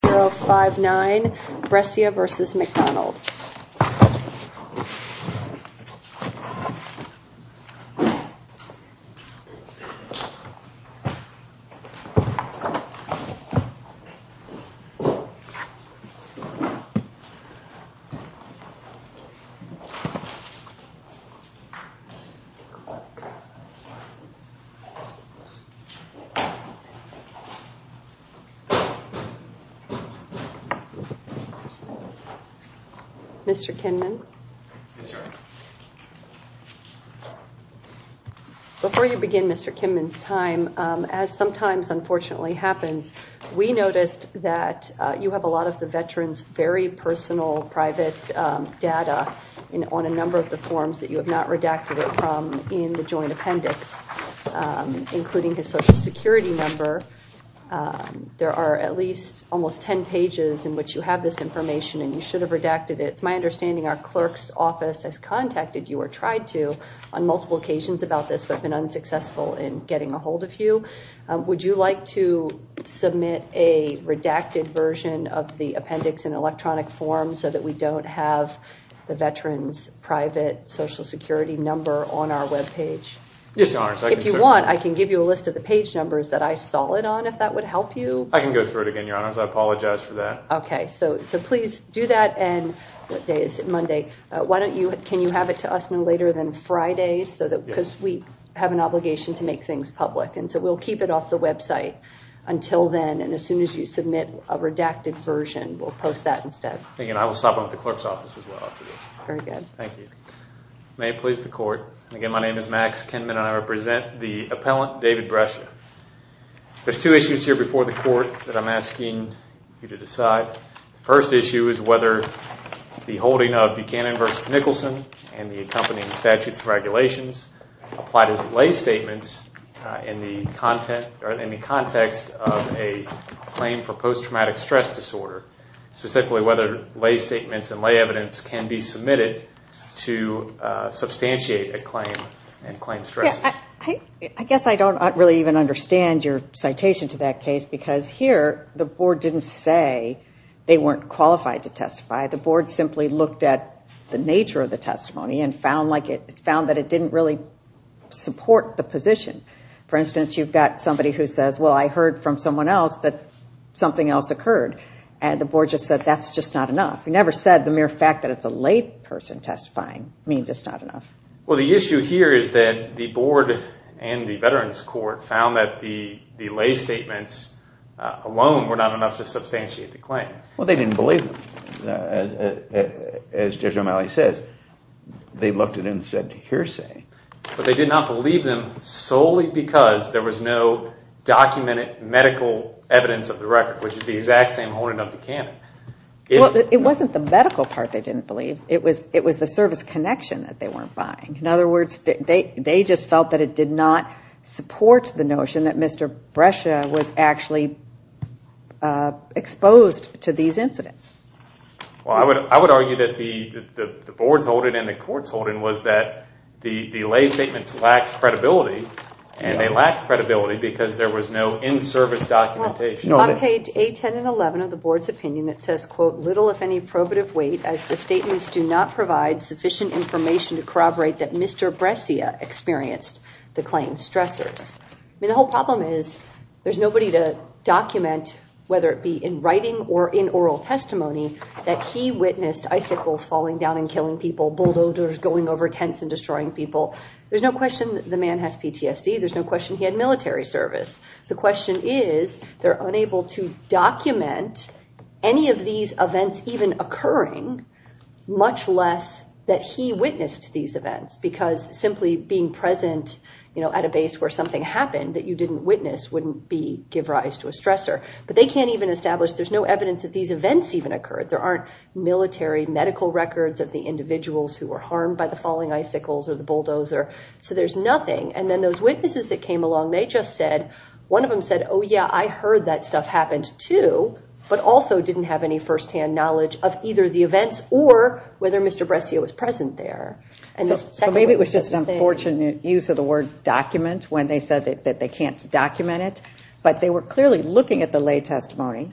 059 Brescia v. McDonald Mr. Kinman, before you begin Mr. Kinman's time, as sometimes unfortunately happens, we noticed that you have a lot of the veteran's very personal private data on a number of the forms that you have not redacted it from in the joint appendix, including his social security number. There are at least almost 10 pages in which you have this information and you should have redacted it. It's my understanding our clerk's office has contacted you or tried to on multiple occasions about this but been unsuccessful in getting a hold of you. Would you like to submit a redacted version of the appendix in electronic form so that we don't have the veteran's private social security number on our web page? Yes, Your Honor. If you want, I can give you a list of the page numbers that I saw it on if that would help you. I can go through it again, Your Honor. I apologize for that. Okay. So please do that. And what day is it? Monday. Why don't you, can you have it to us no later than Friday so that because we have an obligation to make things public and so we'll keep it off the website until then and as soon as you submit a redacted version, we'll post that instead. Again, I will stop at the clerk's office as well after this. Very good. Thank you. May it please the court. Again, my name is Max Kinman and I represent the appellant, David Brescia. There's two issues here before the court that I'm asking you to decide. First issue is whether the holding of Buchanan v. Nicholson and the accompanying statutes and regulations applied as lay statements in the context of a claim for post-traumatic stress disorder, specifically whether lay statements and lay evidence can be submitted to substantiate a claim and claim stresses. I guess I don't really even understand your citation to that case because here the board didn't say they weren't qualified to testify. The board simply looked at the nature of the testimony and found that it didn't really support the position. For instance, you've got somebody who says, well I heard from someone else that something else occurred and the board just said that's just not enough. You never said the mere fact that it's a lay person testifying means it's not enough. Well the issue here is that the board and the veterans court found that the lay statements alone were not enough to substantiate the claim. Well they didn't believe them. As Judge O'Malley says, they looked at it and said hearsay. But they did not believe them solely because there was no documented medical evidence of the record, which is the exact same holding of Buchanan. Well it wasn't the medical part they didn't believe, it was the service connection that they weren't buying. In other words, they just felt that it did not support the notion that Mr. Brescia was actually exposed to these incidents. I would argue that the board's holding and the court's holding was that the lay statements lacked credibility and they lacked credibility because there was no in-service documentation. On page 8, 10, and 11 of the board's opinion, it says, quote, little if any probative weight as the statements do not provide sufficient information to corroborate that Mr. Brescia experienced the claims stressors. The whole problem is there's nobody to document whether it be in writing or in oral testimony that he witnessed icicles falling down and killing people, bulldozers going over tents and destroying people. There's no question that the man has PTSD, there's no question he had military service. The question is they're unable to document any of these events even occurring, much less that he witnessed these events because simply being present at a base where something happened that you didn't witness wouldn't give rise to a stressor, but they can't even establish there's no evidence that these events even occurred. There aren't military medical records of the individuals who were harmed by the falling icicles or the bulldozer, so there's nothing. Those witnesses that came along, they just said, one of them said, oh yeah, I heard that stuff happened too, but also didn't have any first-hand knowledge of either the events or whether Mr. Brescia was present there. Maybe it was just an unfortunate use of the word document when they said that they can't document it, but they were clearly looking at the lay testimony.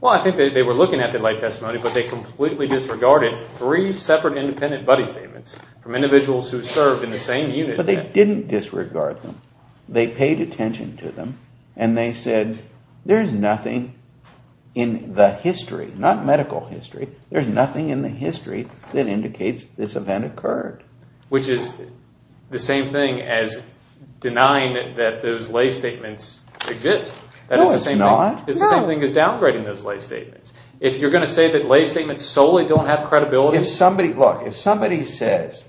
Well, I think they were looking at the lay testimony, but they completely disregarded three separate independent buddy statements from individuals who served in the same unit. But they didn't disregard them. They paid attention to them, and they said, there's nothing in the history, not medical history, there's nothing in the history that indicates this event occurred. Which is the same thing as denying that those lay statements exist. No, it's not. It's the same thing as downgrading those lay statements. If you're going to say that lay statements solely don't have credibility... Look, if somebody says,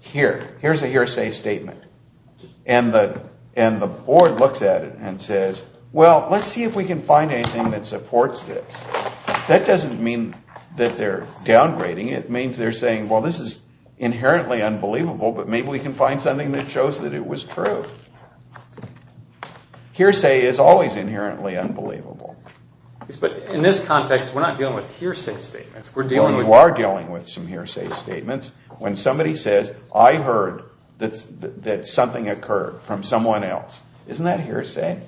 here, here's a hearsay statement, and the board looks at it and says, well, let's see if we can find anything that supports this. That doesn't mean that they're downgrading. It means they're saying, well, this is inherently unbelievable, but maybe we can find something that shows that it was true. Hearsay is always inherently unbelievable. In this context, we're not dealing with hearsay statements. You are dealing with some hearsay statements. When somebody says, I heard that something occurred from someone else, isn't that hearsay?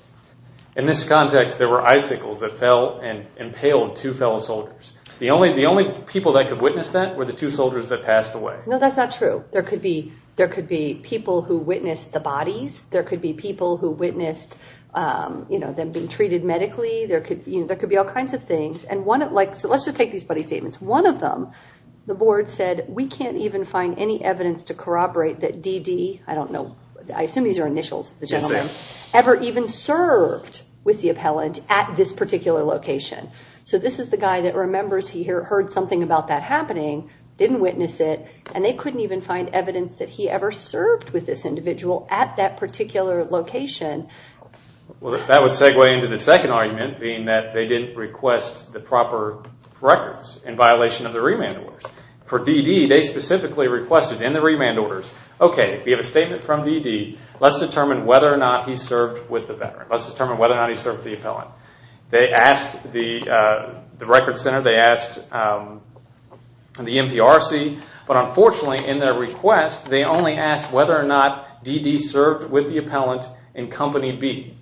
In this context, there were icicles that fell and impaled two fellow soldiers. The only people that could witness that were the two soldiers that passed away. No, that's not true. There could be people who witnessed the bodies. There could be people who witnessed them being treated medically. There could be all kinds of things. Let's just take these body statements. One of them, the board said, we can't even find any evidence to corroborate that D.D. I don't know, I assume these are initials, the gentleman, ever even served with the appellant at this particular location. This is the guy that remembers he heard something about that happening, didn't witness it, and they couldn't even find evidence that he ever served with this individual at that particular location. That would segue into the second argument being that they didn't request the proper records in violation of the remand orders. For D.D., they specifically requested in the remand orders, okay, we have a statement from D.D. Let's determine whether or not he served with the veteran. Let's determine whether or not he served with the appellant. They asked the records center, they asked the NPRC, but unfortunately in their request, they only asked whether or not D.D. served with the appellant in Company B.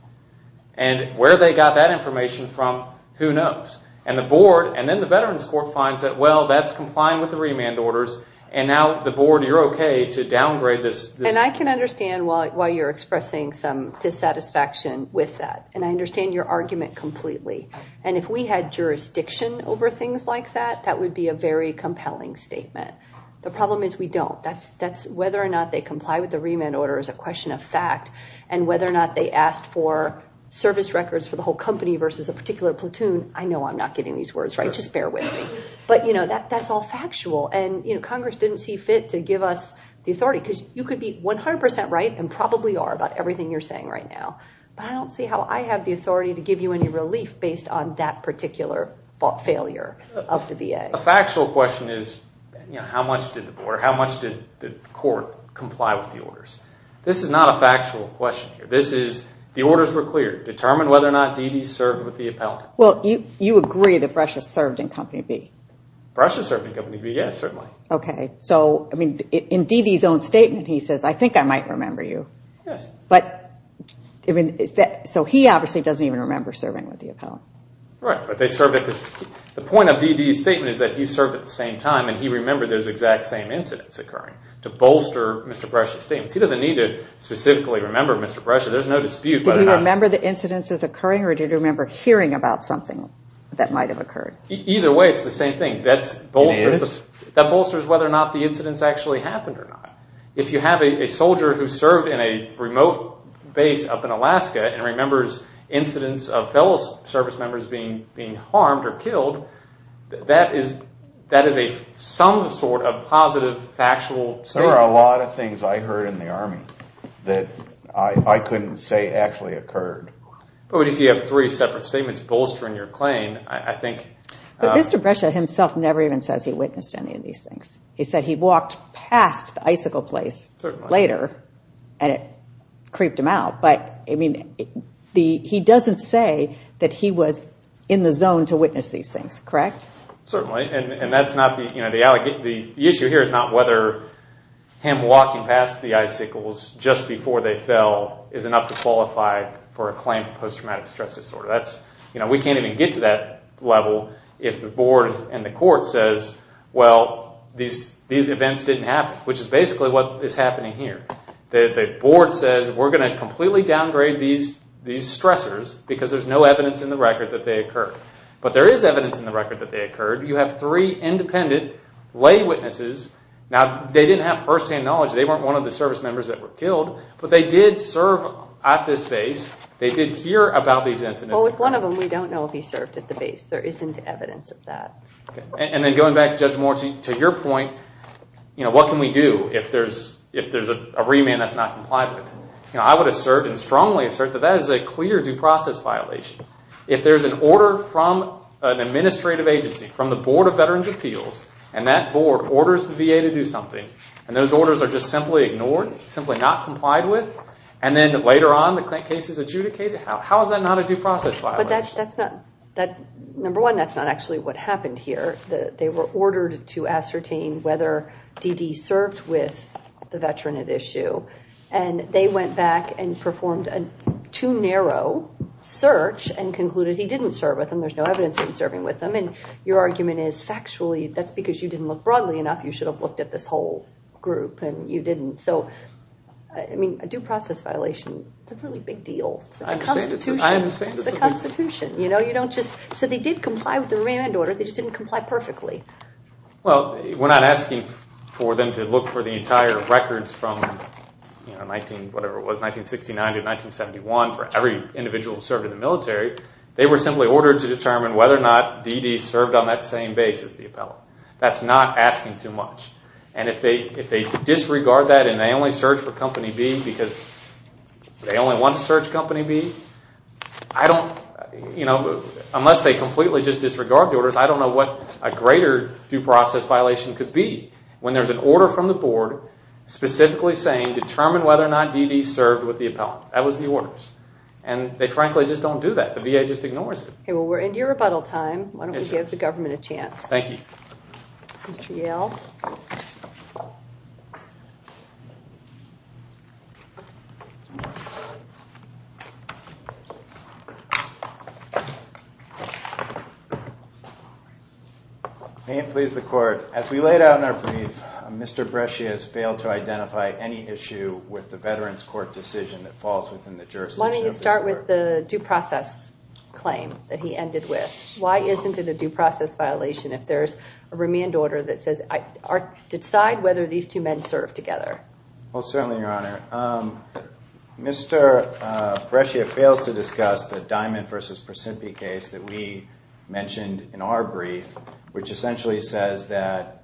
Where they got that information from, who knows? The board, and then the Veterans Court finds that, well, that's complying with the remand orders, and now the board, you're okay to downgrade this. I can understand why you're expressing some dissatisfaction with that, and I understand your argument completely. If we had jurisdiction over things like that, that would be a very compelling statement. The problem is we don't. That's whether or not they comply with the remand order is a question of fact, and whether or not they asked for service records for the whole company versus a particular platoon, I know I'm not getting these words right, just bear with me. That's all factual, and Congress didn't see fit to give us the authority because you could be 100% right and probably are about everything you're saying right now, but I don't see how I have the authority to give you any relief based on that particular failure of the VA. A factual question is how much did the court comply with the orders? This is not a factual question here. The orders were clear. Determine whether or not Dede served with the appellant. You agree that Brescia served in Company B. Brescia served in Company B, yes, certainly. In Dede's own statement, he says, I think I might remember you. He obviously doesn't even remember serving with the appellant. The point of Dede's statement is that he served at the same time and he remembered those exact same incidents occurring to bolster Mr. Brescia's statement. He doesn't need to specifically remember Mr. Brescia. There's no dispute. Did he remember the incidents occurring or did he remember hearing about something that might have occurred? Either way, it's the same thing. That bolsters whether or not the incidents actually happened or not. If you have a soldier who served in a remote base up in Alaska and remembers incidents of fellow service members being harmed or killed, that is some sort of positive, factual statement. There are a lot of things I heard in the Army that I couldn't say actually occurred. But if you have three separate statements bolstering your claim, I think... But Mr. Brescia himself never even says he witnessed any of these things. He said he walked past the icicle place later and it creeped him out. But he doesn't say that he was in the zone to witness these things, correct? Certainly. And that's not the... The issue here is not whether him walking past the icicles just before they fell is enough to qualify for a claim for post-traumatic stress disorder. We can't even get to that level if the board and the court says, well, these events didn't happen, which is basically what is happening here. The board says, we're going to completely downgrade these stressors because there's no evidence in the record that they occurred. But there is evidence in the record that they occurred. You have three independent lay witnesses. Now they didn't have first-hand knowledge. They weren't one of the service members that were killed, but they did serve at this base. They did hear about these incidents. Well, with one of them, we don't know if he served at the base. There isn't evidence of that. And then going back, Judge Moore, to your point, what can we do if there's a remand that's not complied with? I would assert and strongly assert that that is a clear due process violation. If there's an order from an administrative agency, from the Board of Veterans' Appeals, and that board orders the VA to do something, and those orders are just simply ignored, simply not complied with, and then later on the case is adjudicated, how is that not a due process violation? No, that's not, number one, that's not actually what happened here. They were ordered to ascertain whether D.D. served with the veteran at issue. And they went back and performed a too narrow search and concluded he didn't serve with them. There's no evidence of him serving with them. And your argument is, factually, that's because you didn't look broadly enough. You should have looked at this whole group, and you didn't. So I mean, a due process violation, it's a really big deal. I understand. It's a constitution. You know, you don't just, so they did comply with the Rand Order, they just didn't comply perfectly. Well, we're not asking for them to look for the entire records from, you know, 19, whatever it was, 1969 to 1971, for every individual who served in the military. They were simply ordered to determine whether or not D.D. served on that same base as the appellant. That's not asking too much. And if they disregard that and they only search for Company B because they only want to search Company B, I don't, you know, unless they completely just disregard the orders, I don't know what a greater due process violation could be. When there's an order from the board specifically saying, determine whether or not D.D. served with the appellant. That was the orders. And they frankly just don't do that. The VA just ignores it. Well, we're into your rebuttal time. Yes, ma'am. Why don't we give the government a chance? Thank you. Mr. Yale. May it please the court, as we laid out in our brief, Mr. Brescia has failed to identify any issue with the Veterans Court decision that falls within the jurisdiction of the court. Why don't you start with the due process claim that he ended with? Why isn't it a due process violation if there's a remand order that says, decide whether these two men served together? Well, certainly, Your Honor, Mr. Brescia fails to discuss the Diamond versus Precipice case that we mentioned in our brief, which essentially says that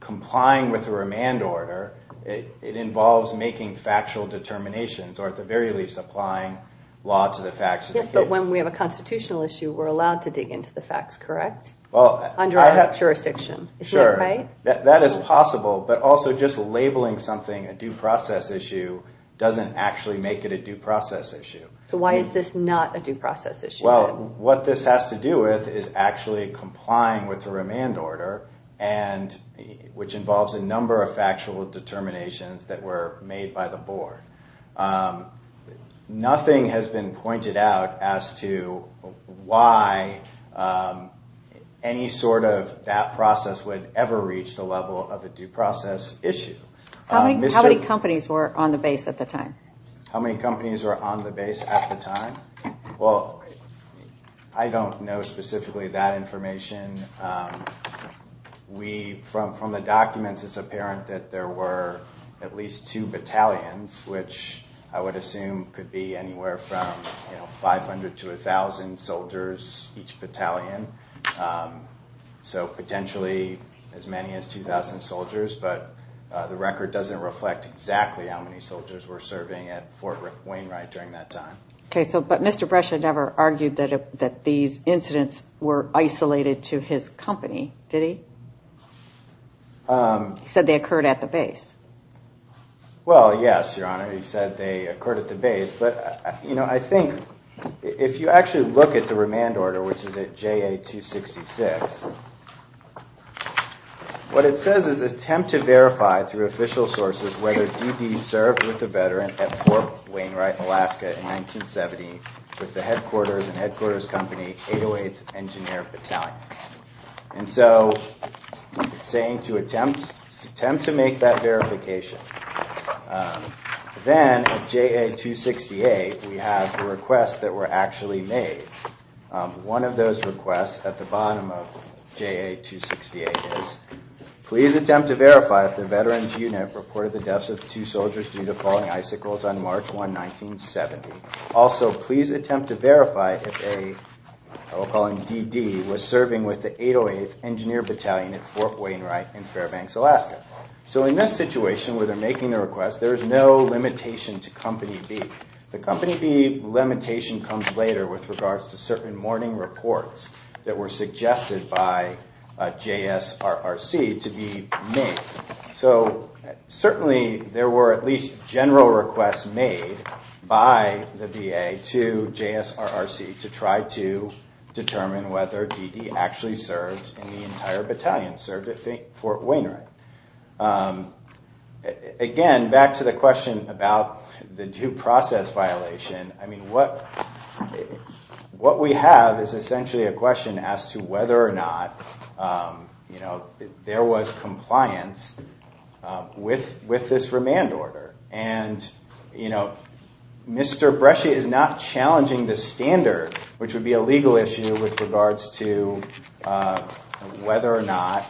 complying with the remand order, it involves making factual determinations or at the very least, applying law to the facts. Yes, but when we have a constitutional issue, we're allowed to dig into the facts, correct? Under our jurisdiction. Is that right? Sure. That is possible. But also just labeling something a due process issue doesn't actually make it a due process issue. So why is this not a due process issue? Well, what this has to do with is actually complying with the remand order, which involves a number of factual determinations that were made by the board. Nothing has been pointed out as to why any sort of that process would ever reach the level of a due process issue. How many companies were on the base at the time? How many companies were on the base at the time? Well, I don't know specifically that information. From the documents, it's apparent that there were at least two battalions, which I would assume could be anywhere from 500 to 1,000 soldiers each battalion. So potentially as many as 2,000 soldiers, but the record doesn't reflect exactly how many soldiers were serving at Fort Wainwright during that time. But Mr. Brescia never argued that these incidents were isolated to his company, did he? He said they occurred at the base. Well, yes, Your Honor, he said they occurred at the base, but I think if you actually look at the remand order, which is at JA-266, what it says is, attempt to verify through official sources whether D.D. served with the veteran at Fort Wainwright, Alaska in 1970 with the headquarters and headquarters company 808th Engineer Battalion. And so it's saying to attempt to make that verification. Then at JA-268, we have the requests that were actually made. One of those requests at the bottom of JA-268 is, please attempt to verify if the veteran's engineer reported the deaths of two soldiers due to falling icicles on March 1, 1970. Also please attempt to verify if a, I will call him D.D., was serving with the 808th Engineer Battalion at Fort Wainwright in Fairbanks, Alaska. So in this situation where they're making the request, there is no limitation to Company B. The Company B limitation comes later with regards to certain morning reports that were suggested by JSRRC to be made. So certainly there were at least general requests made by the VA to JSRRC to try to determine whether D.D. actually served in the entire battalion, served at Fort Wainwright. Again, back to the question about the due process violation, I mean what we have is with this remand order and Mr. Brescia is not challenging the standard, which would be a legal issue with regards to whether or not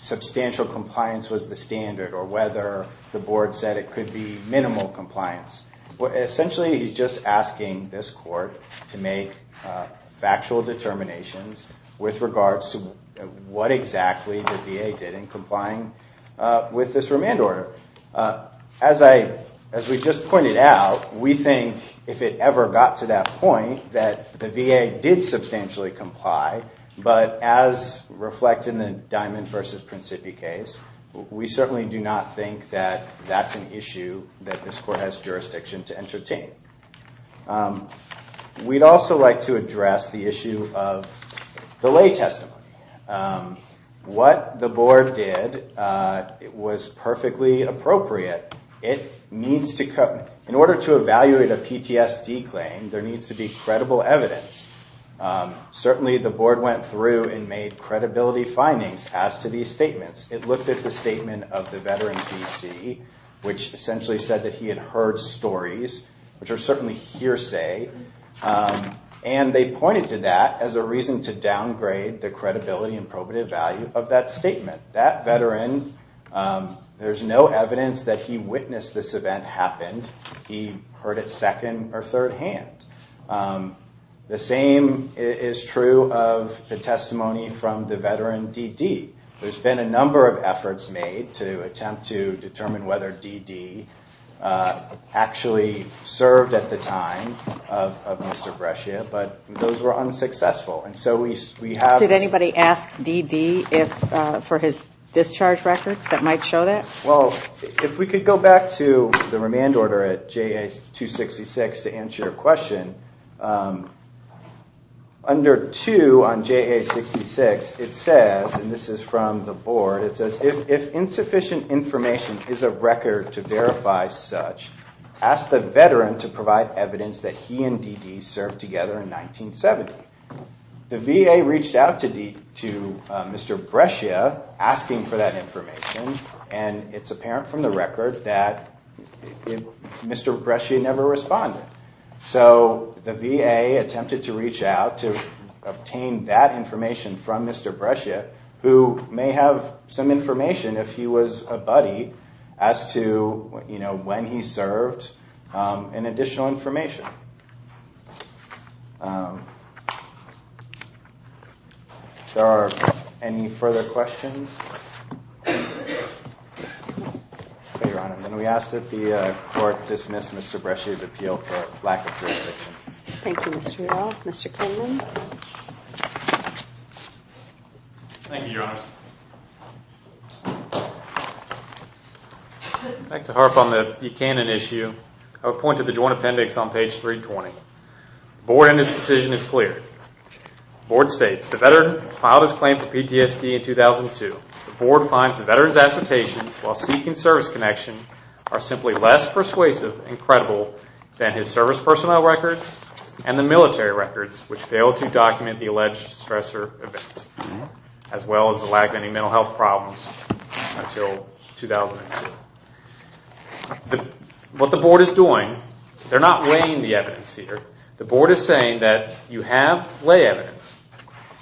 substantial compliance was the standard or whether the board said it could be minimal compliance. Essentially he's just asking this court to make factual determinations with regards to what exactly the VA did in complying with this remand order. As I, as we just pointed out, we think if it ever got to that point that the VA did substantially comply, but as reflected in the Diamond v. Principi case, we certainly do not think that that's an issue that this court has jurisdiction to entertain. We'd also like to address the issue of the lay testimony. What the board did was perfectly appropriate. It needs to, in order to evaluate a PTSD claim, there needs to be credible evidence. Certainly the board went through and made credibility findings as to these statements. It looked at the statement of the veteran D.C., which essentially said that he had heard stories, which are certainly hearsay, and they pointed to that as a reason to downgrade the credibility and probative value of that statement. That veteran, there's no evidence that he witnessed this event happen. He heard it second or third hand. The same is true of the testimony from the veteran D.D. There's been a number of efforts made to attempt to determine whether D.D. actually served at the time of Mr. Brescia, but those were unsuccessful. And so we have... Did anybody ask D.D. for his discharge records that might show that? Well, if we could go back to the remand order at JA-266 to answer your question. Under 2 on JA-66, it says, and this is from the board, it says, if insufficient information is a record to verify such, ask the veteran to provide evidence that he and D.D. served together in 1970. The VA reached out to Mr. Brescia, asking for that information, and it's apparent from the record that Mr. Brescia never responded. So the VA attempted to reach out to obtain that information from Mr. Brescia, who may have some information, if he was a buddy, as to when he served, and additional information. There are any further questions? Your Honor, then we ask that the court dismiss Mr. Brescia's appeal for lack of jurisdiction. Thank you, Mr. Rudolph. Mr. Kinman? Thank you, Your Honor. Back to HARP on the Buchanan issue, I would point to the joint appendix on page 320. The board in this decision is clear. The board states, the veteran filed his claim for PTSD in 2002. The board finds the veteran's assertions while seeking service connection are simply less persuasive and credible than his service personnel records and the military records, which fail to document the alleged stressor events, as well as the lack of any mental health problems until 2002. What the board is doing, they're not weighing the evidence here. The board is saying that you have lay evidence,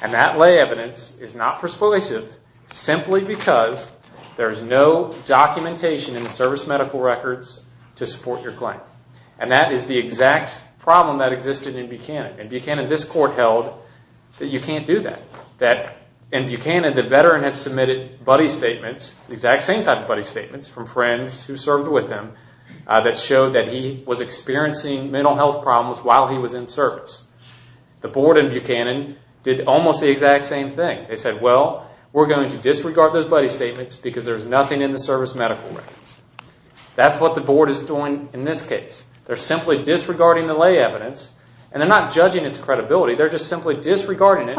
and that lay evidence is not persuasive simply because there is no documentation in the service medical records to support your claim. And that is the exact problem that existed in Buchanan. In Buchanan, this court held that you can't do that. In Buchanan, the veteran had submitted buddy statements, the exact same type of buddy statements, from friends who served with him, that showed that he was experiencing mental health problems while he was in service. The board in Buchanan did almost the exact same thing. They said, well, we're going to disregard those buddy statements because there's nothing in the service medical records. That's what the board is doing in this case. They're simply disregarding the lay evidence, and they're not judging its credibility. They're just simply disregarding it.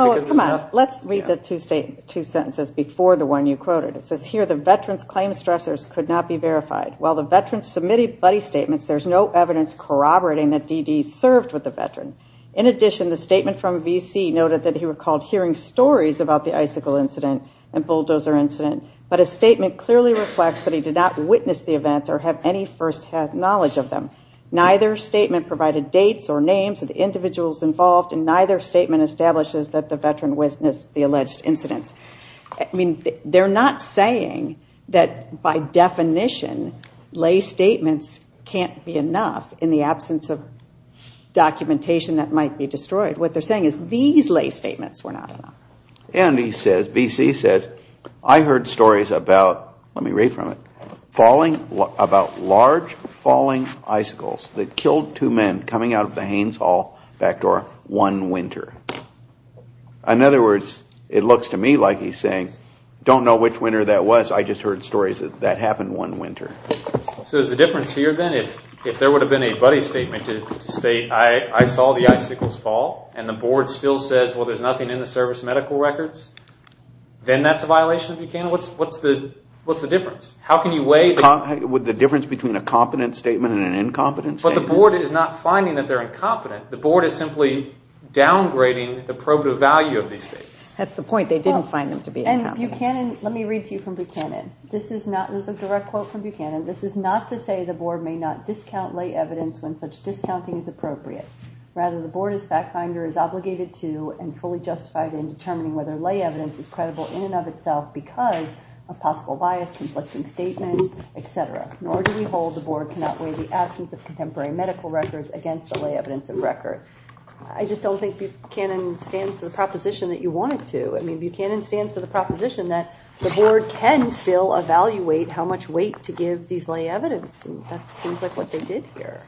Let's read the two sentences before the one you quoted. It says here, the veteran's claim stressors could not be verified. While the veteran submitted buddy statements, there's no evidence corroborating that D.D. served with the veteran. In addition, the statement from V.C. noted that he recalled hearing stories about the icicle incident and bulldozer incident, but a statement clearly reflects that he did not witness the events or have any first-hand knowledge of them. Neither statement provided dates or names of the individuals involved, and neither statement establishes that the veteran witnessed the alleged incidents. I mean, they're not saying that, by definition, lay statements can't be enough in the absence of documentation that might be destroyed. What they're saying is these lay statements were not enough. And he says, V.C. says, I heard stories about, let me read from it, about large falling icicles that killed two men coming out of the Haines Hall back door one winter. In other words, it looks to me like he's saying, don't know which winter that was, I just heard stories that that happened one winter. So is the difference here, then, if there would have been a buddy statement to state, I saw the icicles fall, and the board still says, well, there's nothing in the service medical records, then that's a violation of Buchanan? What's the difference? How can you weigh the difference between a competent statement and an incompetent statement? But the board is not finding that they're incompetent. The board is simply downgrading the probative value of these statements. That's the point. They didn't find them to be incompetent. And Buchanan, let me read to you from Buchanan. This is a direct quote from Buchanan. This is not to say the board may not discount lay evidence when such discounting is appropriate. Rather, the board as fact finder is obligated to and fully justified in determining whether lay evidence is credible in and of itself because of possible bias, conflicting statements, et cetera. Nor do we hold the board cannot weigh the absence of contemporary medical records against the lay evidence of record. I just don't think Buchanan stands for the proposition that you want it to. I mean, Buchanan stands for the proposition that the board can still evaluate how much weight to give these lay evidence. And that seems like what they did here.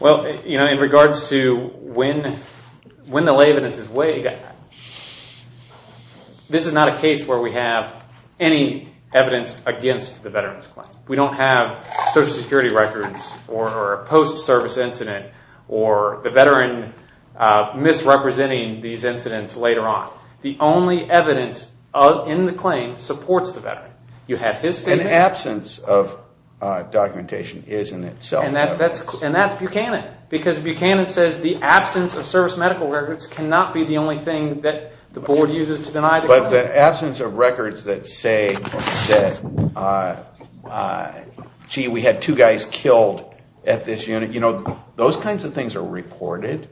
Well, you know, in regards to when the lay evidence is weighed, this is not a case where we have any evidence against the veteran's claim. We don't have Social Security records or a post-service incident or the veteran misrepresenting these incidents later on. The only evidence in the claim supports the veteran. You have his statements. An absence of documentation is in itself evidence. And that's Buchanan because Buchanan says the absence of service medical records cannot be the only thing that the board uses to deny the claim. But the absence of records that say that, gee, we had two guys killed at this unit, you know, those kinds of things are reported.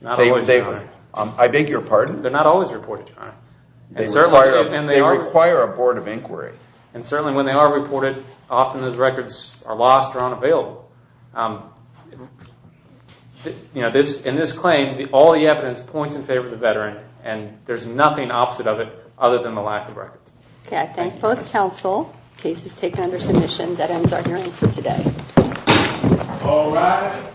Not always, Your Honor. I beg your pardon? They're not always reported, Your Honor. They require a board of inquiry. And certainly when they are reported, often those records are lost or unavailable. You know, in this claim, all the evidence points in favor of the veteran, and there's nothing opposite of it other than the lack of records. Okay. I thank both counsel. The case is taken under submission. That ends our hearing for today. All rise.